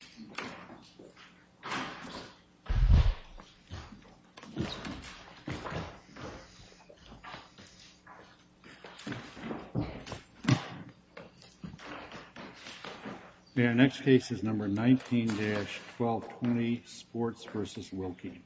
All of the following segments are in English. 19-1220 Sports v. Wilkie 19-1220 Sports v. Wilkie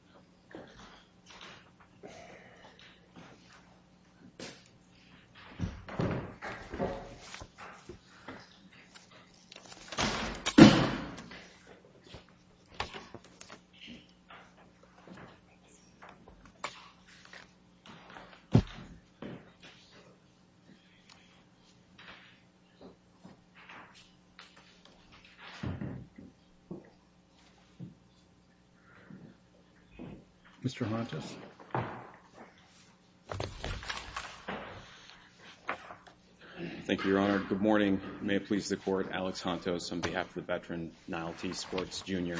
Thank you, Your Honor. Good morning. May it please the Court, Alex Hontos on behalf of the veteran, Niall T. Sports, Jr.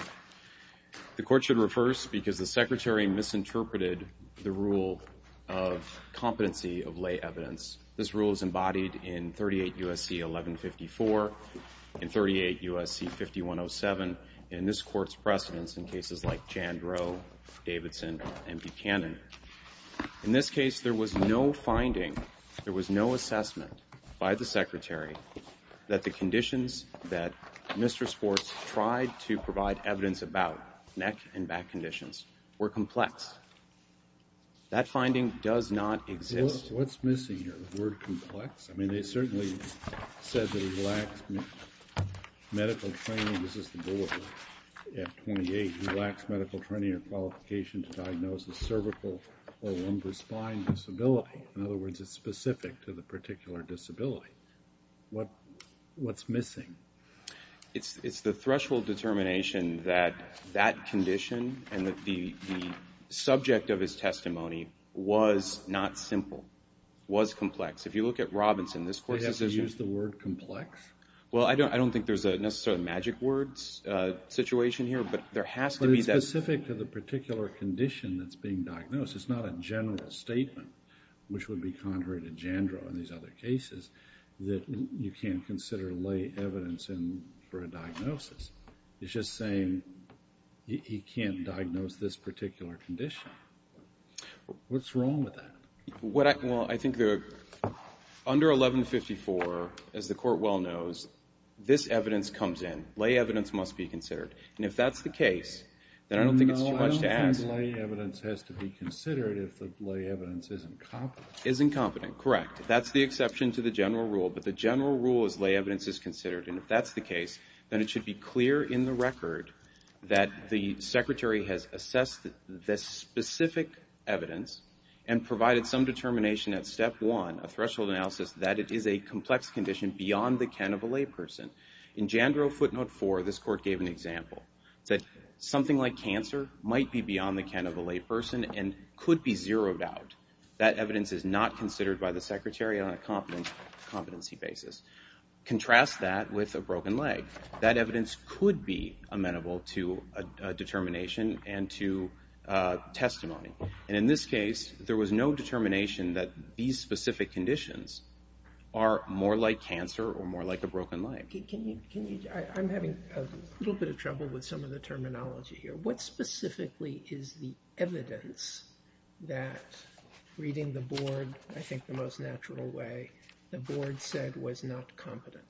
The Court should reverse because the Secretary misinterpreted the rule of competency of lay evidence. This rule is embodied in 38 U.S.C. 1154 and 38 U.S.C. 5107 and this Court's precedents in cases like Jandrow, Davidson, and Buchanan. In this case, there was no finding, there was no assessment by the Secretary that the Mr. Sports tried to provide evidence about neck and back conditions were complex. That finding does not exist. What's missing here? The word complex? I mean, they certainly said that he lacks medical training. This is the board at 28. He lacks medical training or qualification to diagnose a cervical or lumbar spine disability. In other words, it's specific to the particular disability. What's missing? It's the threshold determination that that condition and that the subject of his testimony was not simple, was complex. If you look at Robinson, this Court's decision... They have to use the word complex? Well, I don't think there's necessarily a magic words situation here, but there has to be... But it's specific to the particular condition that's being diagnosed. It's not a general statement, which would be contrary to Jandrow and these other cases, that you can't consider lay evidence in for a diagnosis. It's just saying, you can't diagnose this particular condition. What's wrong with that? Well, I think under 1154, as the Court well knows, this evidence comes in. Lay evidence must be considered. And if that's the case, then I don't think it's too much to ask. No, lay evidence is incompetent. Is incompetent, correct. That's the exception to the general rule, but the general rule is lay evidence is considered. And if that's the case, then it should be clear in the record that the Secretary has assessed this specific evidence and provided some determination at step one, a threshold analysis, that it is a complex condition beyond the can of a lay person. In Jandrow footnote four, this Court gave an example that something like cancer might be beyond the can of a lay person and could be zeroed out. That evidence is not considered by the Secretary on a competency basis. Contrast that with a broken leg. That evidence could be amenable to a determination and to testimony. And in this case, there was no determination that these specific conditions are more like cancer or more like a broken leg. Can you, I'm having a little bit of trouble with some of the terminology here. What specifically is the evidence that, reading the board, I think the most natural way, the board said was not competent?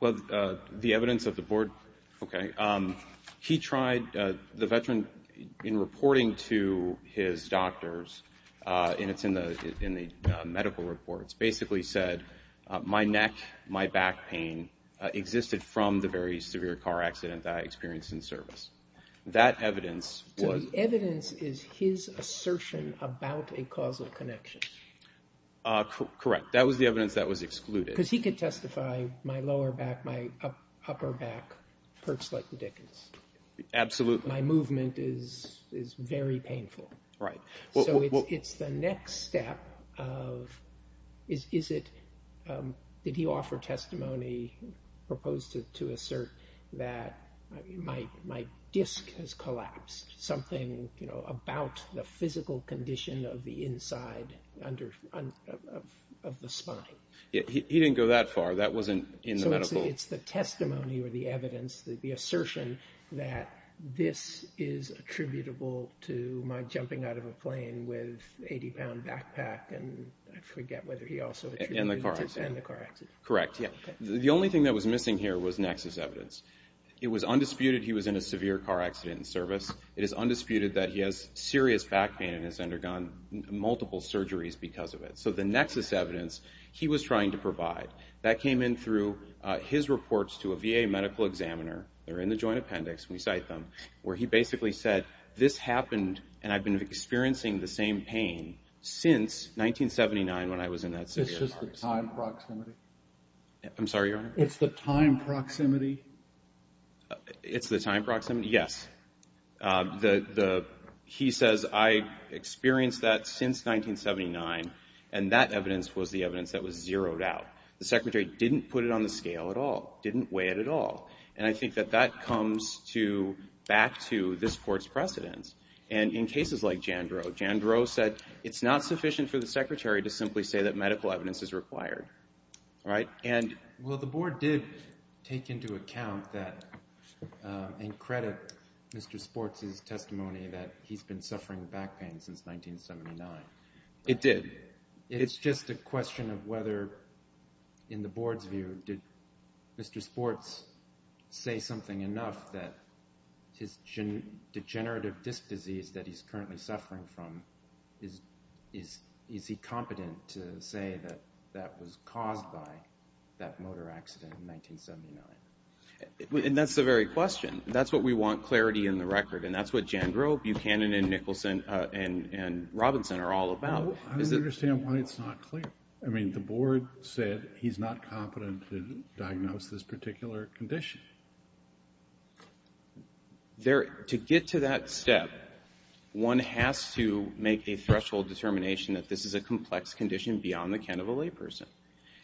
Well, the evidence of the board, okay. He tried, the veteran, in reporting to his doctors, and it's in the medical reports, basically said, my neck, my back pain existed from the very severe car accident that I experienced in service. That evidence was... So the evidence is his assertion about a causal connection? Correct. That was the evidence that was excluded. Because he could testify, my lower back, my upper back hurts like the dickens. Absolutely. My movement is very painful. Right. So it's the next step of, is it, did he offer testimony, proposed to assert that my disc has collapsed, something about the physical condition of the inside of the spine? He didn't go that far. That wasn't in the medical... So it's the testimony or the evidence, the assertion that this is attributable to my plane with 80-pound backpack, and I forget whether he also attributed it to the car accident. And the car accident, correct, yeah. The only thing that was missing here was nexus evidence. It was undisputed he was in a severe car accident in service. It is undisputed that he has serious back pain and has undergone multiple surgeries because of it. So the nexus evidence he was trying to provide, that came in through his reports to a VA medical examiner, they're in the joint appendix, we cite them, where he basically said, this happened, and I've been experiencing the same pain since 1979 when I was in that severe car accident. It's just the time proximity? I'm sorry, Your Honor? It's the time proximity? It's the time proximity, yes. He says, I experienced that since 1979, and that evidence was the evidence that was zeroed out. The Secretary didn't put it on the scale at all, didn't weigh it at all. And I think that that comes back to this Court's precedence. And in cases like Jandreau, Jandreau said, it's not sufficient for the Secretary to simply say that medical evidence is required, right? Well, the Board did take into account that and credit Mr. Sports' testimony that he's been suffering back pain since 1979. It did. It's just a question of whether, in the Board's view, did Mr. Sports say something enough that his degenerative disc disease that he's currently suffering from, is he competent to say that that was caused by that motor accident in 1979? And that's the very question. That's what we want clarity in the record, and that's what Jandreau, Buchanan, and Nicholson, and Robinson are all about. I don't understand why it's not clear. I mean, the Board said he's not competent to diagnose this particular condition. To get to that step, one has to make a threshold determination that this is a complex condition beyond the can of a layperson.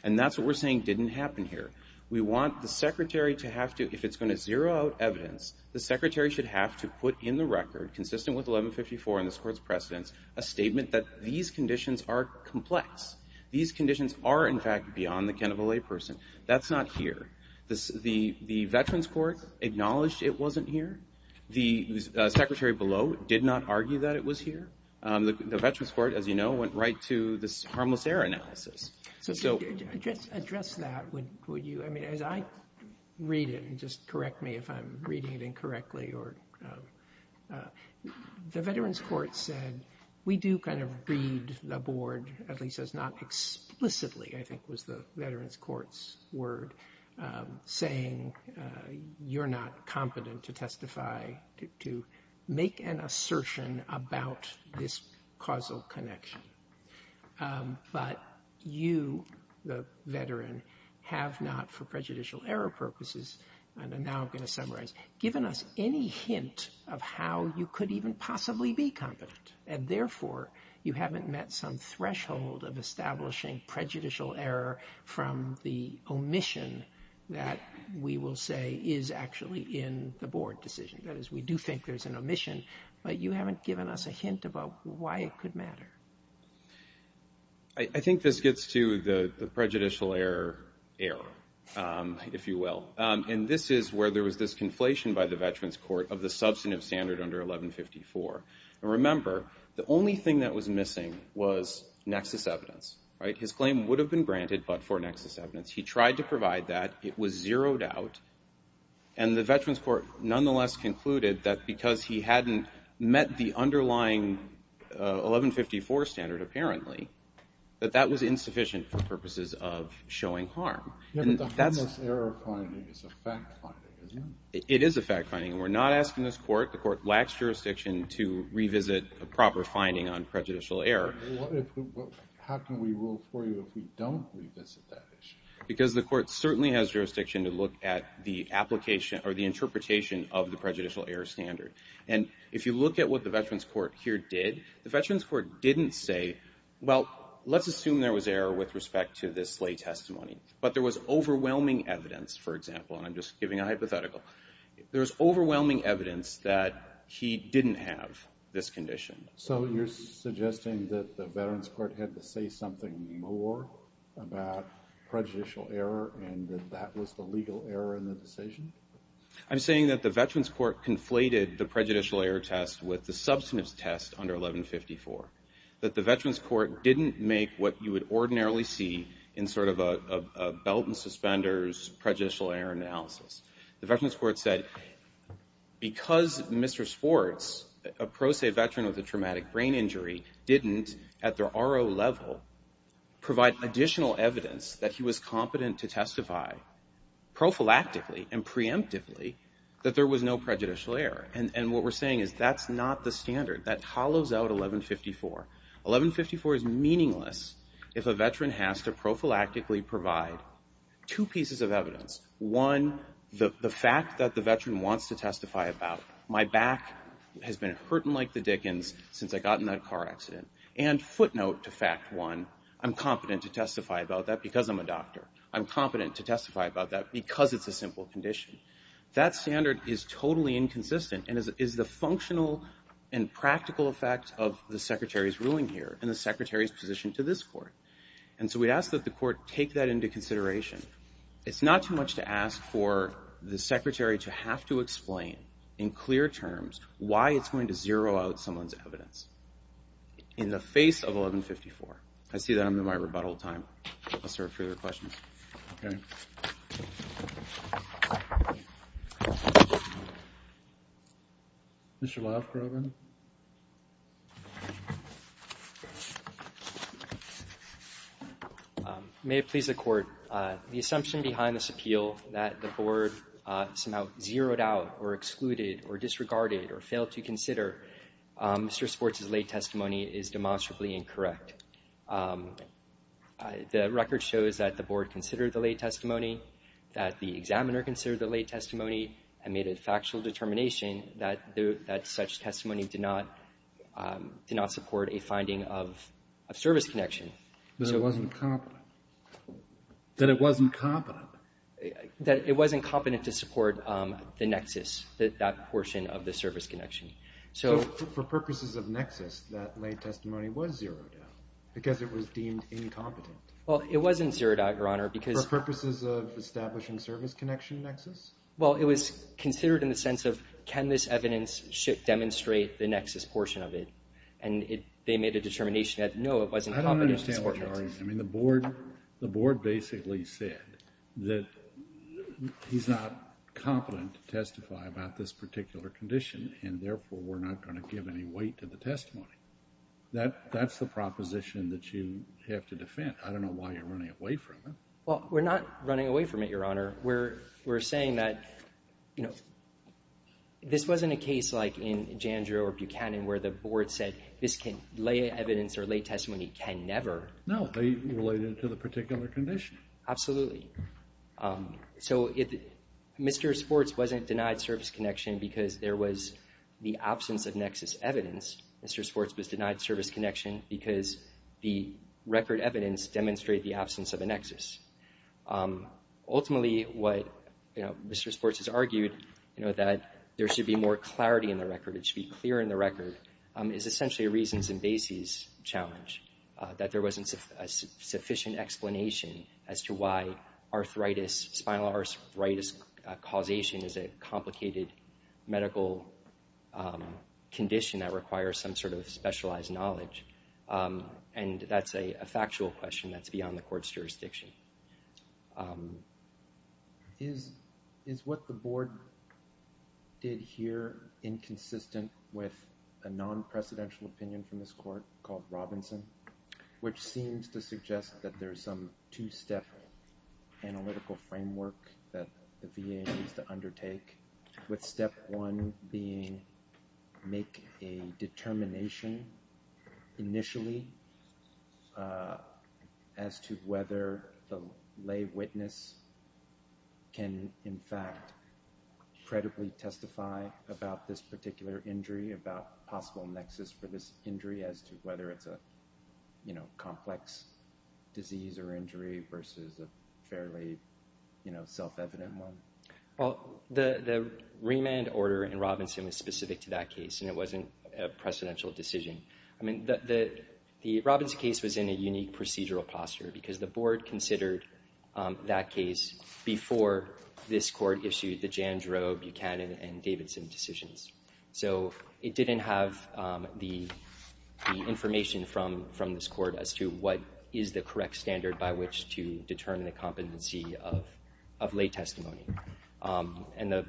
And that's what we're saying didn't happen here. We want the Secretary to have to, if it's going to zero out evidence, the Secretary should have to put in the record, consistent with 1154 and this Court's precedence, a statement that these conditions are complex. These conditions are, in fact, beyond the can of a layperson. That's not here. The Veterans Court acknowledged it wasn't here. The Secretary below did not argue that it was here. The Veterans Court, as you know, went right to this harmless air analysis. So, just to address that, would you, I mean, as I read it, and just correct me if I'm reading it incorrectly, the Veterans Court said, we do kind of read the Board, at least not explicitly, I think was the Veterans Court's word, saying you're not competent to testify, to make an assertion about this causal connection. But you, the veteran, have not, for prejudicial error purposes, and now I'm going to summarize, given us any hint of how you could even possibly be competent. And therefore, you haven't met some threshold of establishing prejudicial error from the omission that we will say is actually in the Board decision. That is, we do think there's an omission, but you haven't given us a hint about why it could matter. I think this gets to the prejudicial error, if you will. And this is where there was this conflation by the Veterans Court of the substantive standard under 1154. Remember, the only thing that was missing was nexus evidence. His claim would have been granted, but for nexus evidence. He tried to provide that. It was zeroed out. And the Veterans Court nonetheless concluded that because he hadn't met the underlying 1154 standard, apparently, that that was insufficient for purposes of showing harm. But the harmless error finding is a fact finding, isn't it? It is a fact finding, and we're not asking this Court, the Court lacks jurisdiction to revisit a proper finding on prejudicial error. How can we rule for you if we don't revisit that issue? Because the Court certainly has jurisdiction to look at the application, or the interpretation of the prejudicial error standard. And if you look at what the Veterans Court here did, the Veterans Court didn't say, well, let's assume there was error with respect to this slay testimony. But there was overwhelming evidence, for example, and I'm just giving a hypothetical. There was overwhelming evidence that he didn't have this condition. So you're suggesting that the Veterans Court had to say something more about prejudicial error and that that was the legal error in the decision? I'm saying that the Veterans Court conflated the prejudicial error test with the substance test under 1154, that the Veterans Court didn't make what you would ordinarily see in sort of a belt and suspenders prejudicial error analysis. The Veterans Court said, because Mr. Sports, a pro se veteran with a traumatic brain injury, didn't, at the RO level, provide additional evidence that he was competent to testify prophylactically and preemptively that there was no prejudicial error. And what we're saying is that's not the standard. That hollows out 1154. 1154 is meaningless if a veteran has to prophylactically provide two pieces of evidence. One, the fact that the veteran wants to testify about, my back has been hurting like the dickens since I got in that car accident. And footnote to fact one, I'm competent to testify about that because I'm a doctor. I'm competent to testify about that because it's a simple condition. That standard is totally inconsistent and is the functional and practical effect of the Secretary's ruling here and the Secretary's position to this court. And so we ask that the court take that into consideration. It's not too much to ask for the Secretary to have to explain in clear terms why it's going to zero out someone's or further questions. Okay. Mr. Lafrover. May it please the court, the assumption behind this appeal that the board somehow zeroed out or excluded or disregarded or failed to consider Mr. Sports' late testimony is demonstrably incorrect. The record shows that the board considered the late testimony, that the examiner considered the late testimony, and made a factual determination that such testimony did not support a finding of service connection. That it wasn't competent. That it wasn't competent. That it wasn't competent to support the nexus, that portion of the service connection. So for purposes of nexus, that late testimony was zeroed out because it was deemed incompetent. Well, it wasn't zeroed out, Your Honor, because... For purposes of establishing service connection nexus? Well, it was considered in the sense of, can this evidence demonstrate the nexus portion of it? And they made a determination that, no, it wasn't competent to support it. I don't understand what you're arguing. I mean, the board basically said that he's not competent to testify about this particular condition, and therefore we're not going to give any weight to the testimony. That's the proposition that you have to defend. I don't know why you're running away from it. Well, we're not running away from it, Your Honor. We're saying that, you know, this wasn't a case like in Jandreau or Buchanan where the board said this can, late evidence or late testimony can never... No, they related it to the particular condition. Absolutely. So Mr. Sports wasn't denied service connection because there was the absence of nexus evidence. Mr. Sports was denied service connection because the record evidence demonstrated the absence of a nexus. Ultimately, what Mr. Sports has argued, you know, that there should be more clarity in the record, it should be clear in the record, is essentially a reasons and basis challenge, that there wasn't a sufficient explanation as to why arthritis, spinal arthritis causation is a complicated medical condition that requires some sort of specialized knowledge. And that's a factual question that's beyond the court's jurisdiction. Is what the board did here inconsistent with a non-presidential opinion from this court called Robinson, which seems to suggest that there's some two-step analytical framework that the VA needs to undertake with step one being make a determination initially as to whether the lay witness can, in fact, credibly testify about this particular injury, about possible nexus for this injury as to whether it's a, you know, complex disease or injury versus a fairly, you know, self-evident one? Well, the remand order in Robinson was specific to that case and it wasn't a precedential decision. I mean, the Robinson case was in a unique procedural posture because the board considered that case before this court issued the Jandro, Buchanan, and Davidson decisions. So it didn't have the information from this court as to what is the correct standard by which to determine the competency of lay testimony. And the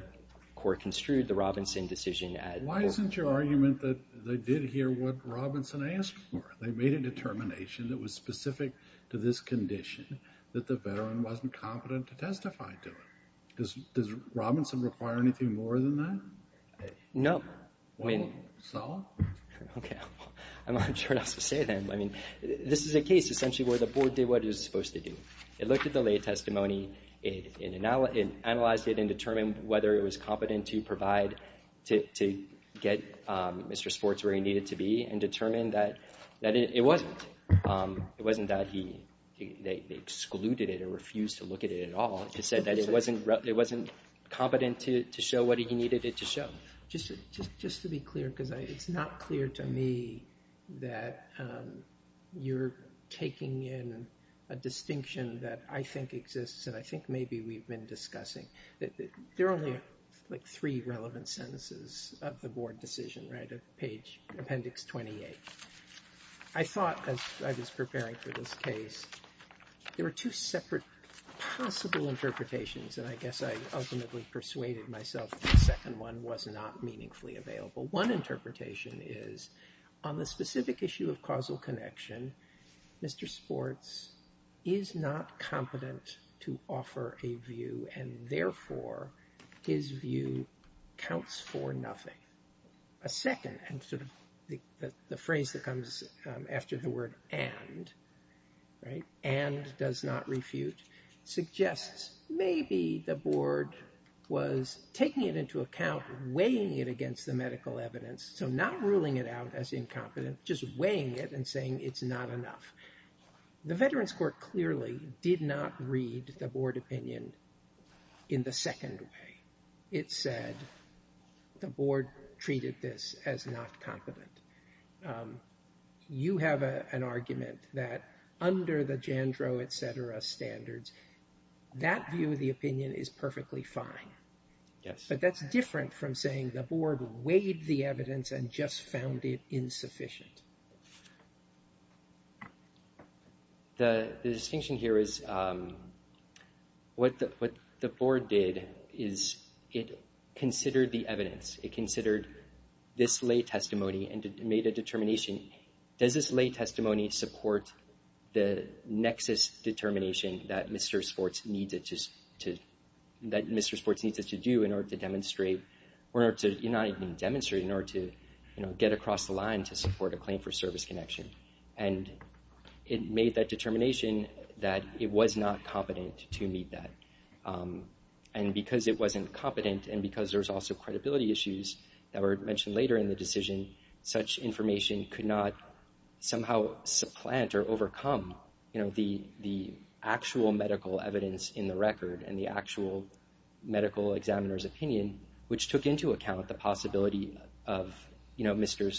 court construed the Robinson decision at court. Why isn't your argument that they did hear what Robinson asked for? They made a determination that was specific to this condition that the veteran wasn't competent to testify to it. Does Robinson require anything more than that? No. So? Okay. I'm not sure what else to say then. I mean, this is a case essentially where the board did what it was supposed to do. It looked at the lay testimony, it analyzed it and determined whether it was competent to provide, to get Mr. Sports where he needed to be and determined that it wasn't. It wasn't that he excluded it or refused to look at it at all. It said that it wasn't competent to show what he needed it to show. Just to be clear, because it's not clear to me that you're taking in a distinction that I think exists and I think maybe we've been discussing. There are only like three relevant sentences of the board decision, right? Of page, appendix 28. I thought as I was preparing for this case, there were two separate possible interpretations and I guess I ultimately persuaded myself that the second one was not meaningfully available. One interpretation is on the specific issue of causal connection. Mr. Sports is not competent to offer a view and therefore his view counts for nothing. A second, and sort of the phrase that comes after the word and, right? And does not refute, suggests maybe the board was taking it into account, weighing it against the medical evidence. So not ruling it out as incompetent, just weighing it and saying it's not enough. The Veterans Court clearly did not read the board opinion in the second way. It said the board treated this as not competent. You have an argument that under the Jandro, et cetera, standards, that view of the opinion is perfectly fine. But that's different from saying the board weighed the evidence and just found it insufficient. The distinction here is what the board did is it considered the evidence. It considered this lay testimony and made a determination. Does this lay testimony support the nexus determination that Mr. Sports needs us to do in order to demonstrate, or not even demonstrate, in order to get across the line to support a claim for service connection? It made that determination that it was not competent to meet that. Because it wasn't competent and because there's also credibility issues that were mentioned later in the decision, such information could not somehow supplant or overcome the actual medical evidence in the record and the actual medical examiner's opinion, which took into account the possibility of Mr.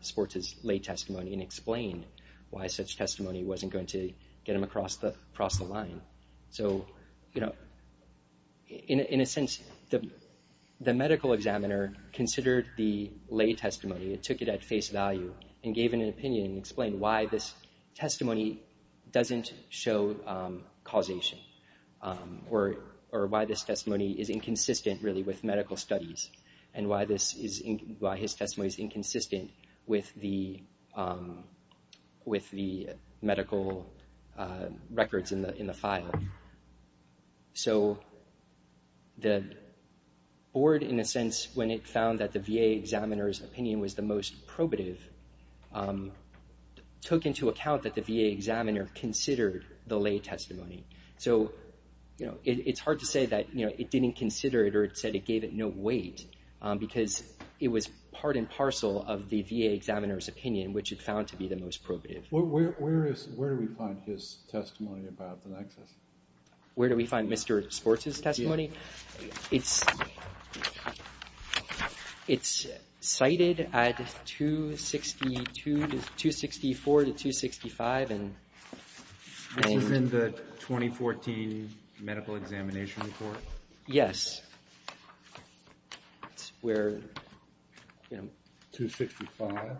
Sports' lay testimony and explained why such testimony wasn't going to get him across the line. So, in a sense, the medical examiner considered the lay testimony and took it at face value and gave an opinion and explained why this testimony doesn't show causation or why this testimony is inconsistent, really, with medical studies and why his testimony is inconsistent with the medical records in the file. So, the board, in a sense, when it found that the VA examiner's opinion was the most probative, took into account that the VA examiner considered the lay testimony. So, it's hard to say that it didn't consider it or it said it gave it a weight, because it was part and parcel of the VA examiner's opinion, which it found to be the most probative. Where do we find his testimony about the nexus? Where do we find Mr. Sports' testimony? It's cited at 264 to 265. This is in the 2014 medical examination report? Yes. It's where, you know... 265?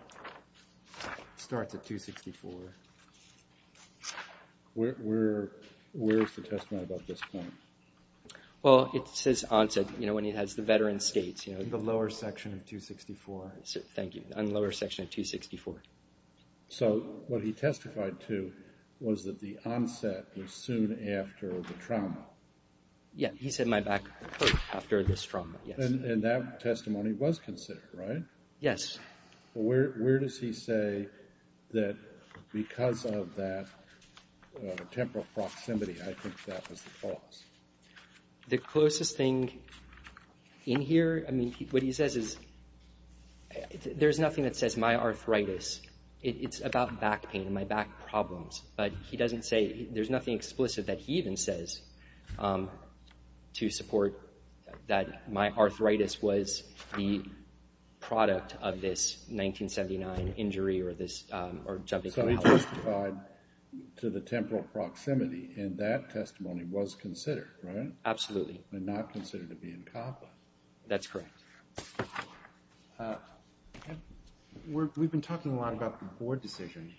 It starts at 264. Where's the testimony about this point? Well, it says onset, you know, when he has the veteran states, you know. In the lower section of 264. Thank you. In the lower section of 264. So, what he testified to was that the onset was soon after the trauma. Yeah, he said my back hurt after this trauma, yes. And that testimony was considered, right? Yes. Where does he say that because of that temporal proximity, I think that was the cause? The closest thing in here, I mean, what he says is, there's nothing that says my arthritis. It's about back pain, my back problems. But he doesn't say, there's nothing explicit that he even says to support that my arthritis was the product of this 1979 injury or this... So he testified to the temporal proximity, and that testimony was considered, right? Absolutely. And not considered to be incompetent. That's correct. We've been talking a lot about the board decision.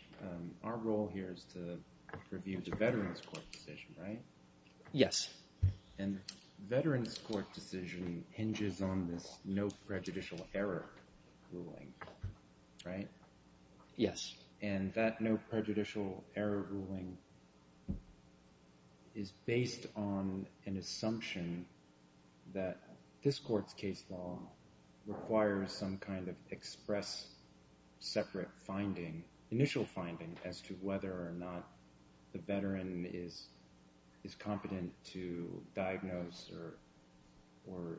Our role here is to review the veterans court decision, right? Yes. And veterans court decision hinges on this no prejudicial error ruling, right? Yes. And that no prejudicial error ruling is based on an assumption that this court's case law requires some kind of express separate finding, initial finding as to whether or not the veteran is competent to diagnose or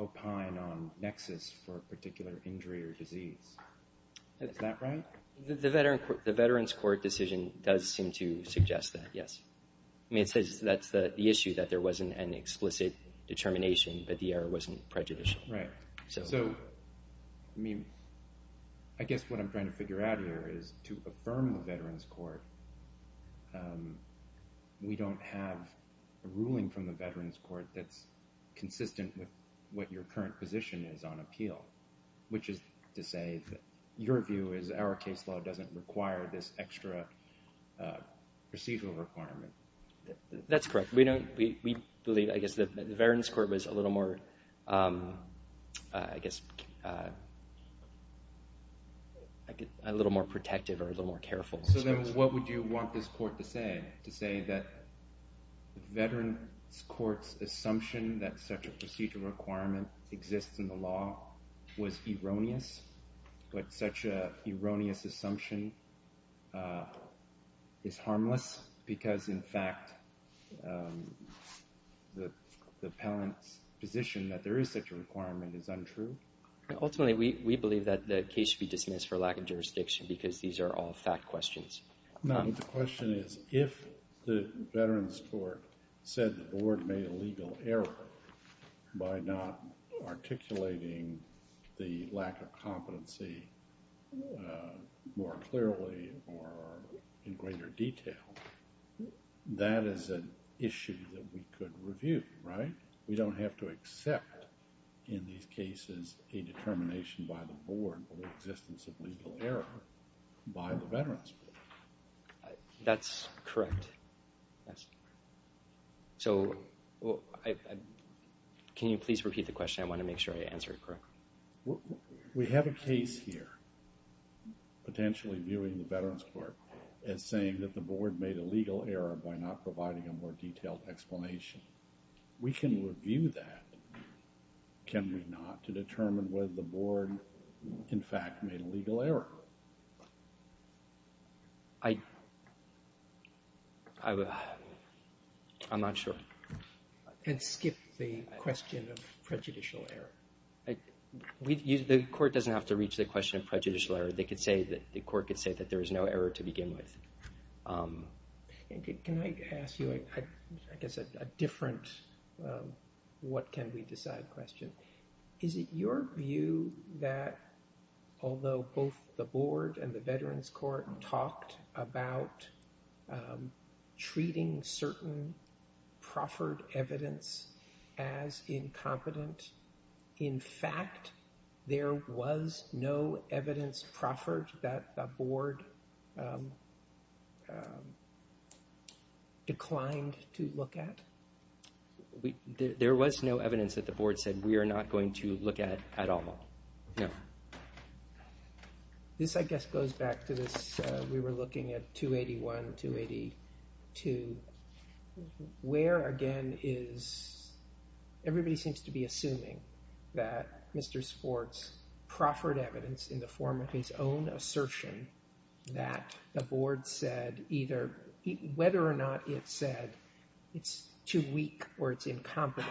opine on nexus for a particular injury or disease. Is that right? The veterans court decision does seem to suggest that, yes. I mean, it says that's the issue, that there wasn't an explicit determination, that the error wasn't prejudicial. Right. So, I mean, I guess what I'm trying to figure out here is to affirm the veterans court, we don't have a ruling from the veterans court that's consistent with what your current position is on appeal, which is to say that your view is our case law doesn't require this extra procedural requirement. That's correct. We believe, I guess, that the veterans court was a little more, I guess, a little more protective or a little more careful. So then what would you want this court to say, to say that veterans court's assumption that such a procedural requirement exists in the law was erroneous, but such an erroneous assumption is harmless because, in fact, the appellant's position that there is such a requirement is untrue? Ultimately, we believe that the case should be dismissed for lack of jurisdiction because these are all fact questions. No, the question is if the veterans court said the board made a legal error by not articulating the lack of competency more clearly or in greater detail, that is an issue that we could review, right? We don't have to accept in these cases a determination by the board or the existence of legal error by the veterans court. That's correct. So, can you please repeat the question? I want to make sure I answer it correctly. We have a case here potentially viewing the veterans court as saying that the board made a legal error by not providing a more detailed explanation. We can review that, can we not, to determine whether the board, in fact, made a legal error. I'm not sure. And skip the question of prejudicial error. The court doesn't have to reach the question of prejudicial error. The court could say that there is no error to begin with. Can I ask you, I guess, a different what can we decide question. Is it your view that although both the board and the veterans court talked about treating certain proffered evidence as incompetent, in fact, there was no evidence proffered that the board declined to look at? There was no evidence that the board said we are not going to look at at all. No. This, I guess, goes back to this. We were looking at 281, 282. Where, again, is, everybody seems to be assuming that Mr. Sports proffered evidence in the form of his own assertion that the board said either, whether or not it said it's too weak or it's incompetent.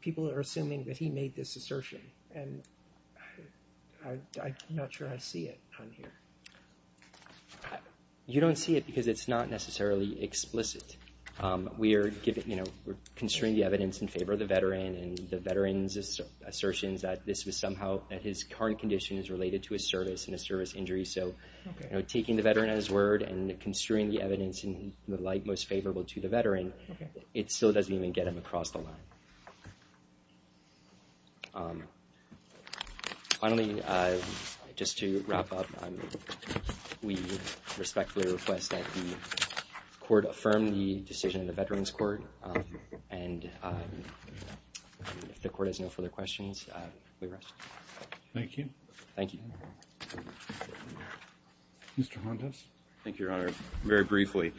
People are assuming that he made this assertion. And I'm not sure I see it on here. You don't see it because it's not necessarily explicit. We are, you know, constrain the evidence in favor of the veteran. And the veteran's assertions that this was somehow, that his current condition is related to his service and his service injury. So, you know, taking the veteran at his word and constrain the evidence in the light most favorable to the veteran, it still doesn't even get him across the line. Finally, just to wrap up, we respectfully request that the court affirm the decision of the Veterans Court. And if the court has no further questions, we rest. Thank you. Thank you. Thank you, Your Honor. Very briefly,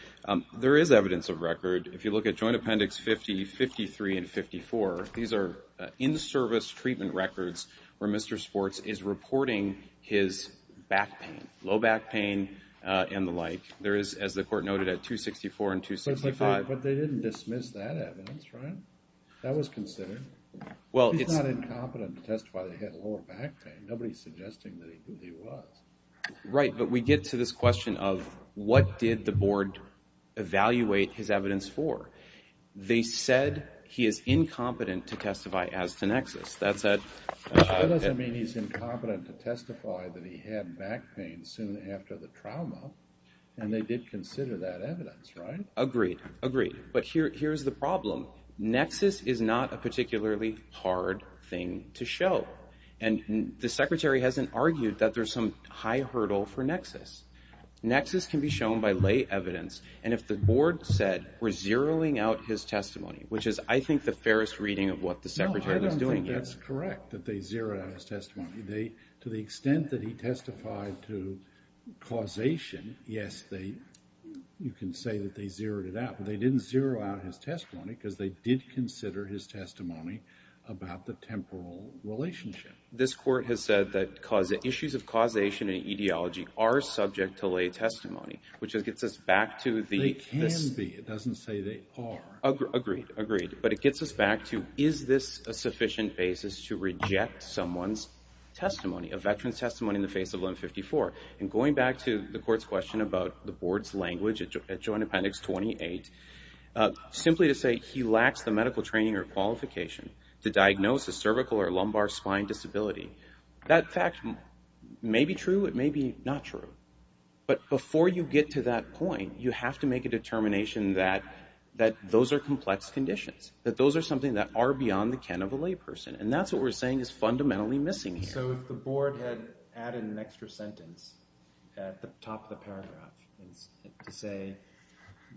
there is evidence of record. If you look at Joint Appendix 50, 53, and 54, these are in-service treatment records where Mr. Sports is reporting his back pain, low back pain, and the like. There is, as the court noted, at 264 and 265. But they didn't dismiss that evidence, right? That was considered. He's not incompetent to testify that he had lower back pain. Nobody's suggesting that he was. Right, but we get to this question of what did the board evaluate his evidence for? They said he is incompetent to testify as to Nexus. That said, That doesn't mean he's incompetent to testify that he had back pain soon after the trauma. And they did consider that evidence, right? Agreed, agreed. But here's the problem. Nexus is not a particularly hard thing to show. And the Secretary hasn't argued that there's some high hurdle for Nexus. Nexus can be shown by lay evidence. And if the board said we're zeroing out his testimony, which is, I think, the fairest reading of what the Secretary was doing here. No, I don't think that's correct, that they zeroed out his testimony. To the extent that he testified to causation, yes, you can say that they zeroed it out. They didn't zero out his testimony because they did consider his testimony about the temporal relationship. This court has said that issues of causation and etiology are subject to lay testimony, which gets us back to the They can be, it doesn't say they are. Agreed, agreed. But it gets us back to, is this a sufficient basis to reject someone's testimony, a veteran's testimony in the face of Limb 54? And going back to the court's question about the board's language at Joint Appendix 28, simply to say he lacks the medical training or qualification to diagnose a cervical or lumbar spine disability, that fact may be true, it may be not true. But before you get to that point, you have to make a determination that those are complex conditions, that those are something that are beyond the ken of a lay person. And that's what we're saying is fundamentally missing here. So if the board had added an extra sentence at the top of the paragraph to say,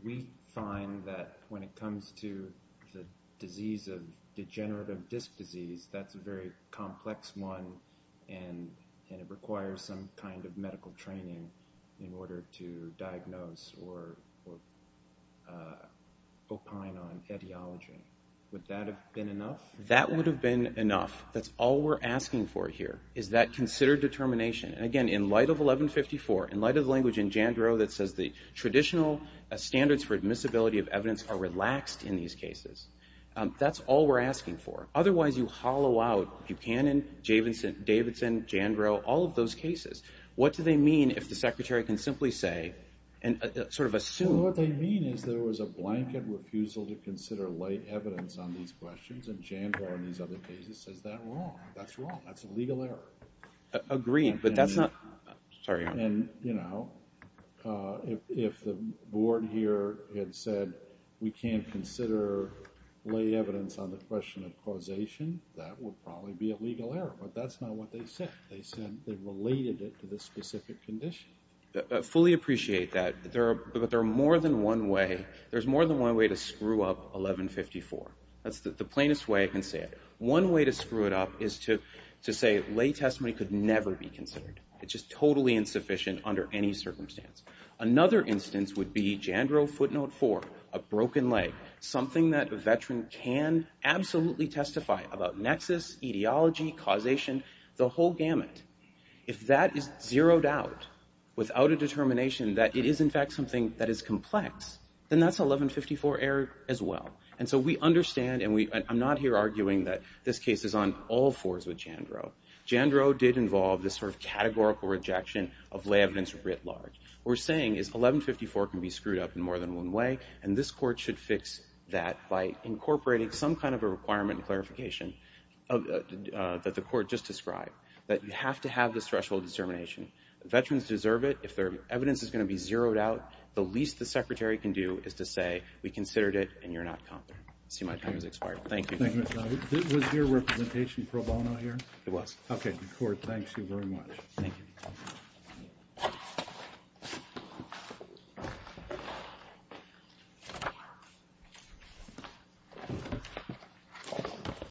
we find that when it comes to the disease of degenerative disc disease, that's a very complex one, and it requires some kind of medical training in order to diagnose or opine on etiology, would that have been enough? That would have been enough. That's all we're asking for here, is that considered determination. And again, in light of 1154, in light of the language in Jandro that says the traditional standards for admissibility of evidence are relaxed in these cases, that's all we're asking for. Otherwise, you hollow out Buchanan, Davidson, Jandro, all of those cases. What do they mean if the Secretary can simply say, sort of assume? What they mean is there was a blanket refusal to consider light evidence on these questions, and Jandro in these other cases says that wrong. That's wrong. That's a legal error. Agreed, but that's not – sorry, Your Honor. And, you know, if the board here had said we can't consider light evidence on the question of causation, that would probably be a legal error. But that's not what they said. They said they related it to the specific condition. I fully appreciate that. But there are more than one way – there's more than one way to screw up 1154. That's the plainest way I can say it. One way to screw it up is to say lay testimony could never be considered. It's just totally insufficient under any circumstance. Another instance would be Jandro footnote 4, a broken leg, something that a veteran can absolutely testify about nexus, etiology, causation, the whole gamut. If that is zeroed out without a determination that it is, in fact, something that is complex, then that's 1154 error as well. And so we understand, and I'm not here arguing that this case is on all fours with Jandro. Jandro did involve this sort of categorical rejection of lay evidence writ large. What we're saying is 1154 can be screwed up in more than one way, and this court should fix that by incorporating some kind of a requirement and clarification that the court just described, that you have to have this threshold of determination. Veterans deserve it. If their evidence is going to be zeroed out, the least the secretary can do is to say we considered it and you're not confident. I see my time has expired. Thank you. Was your representation pro bono here? It was. Okay. The court thanks you very much. Thank you.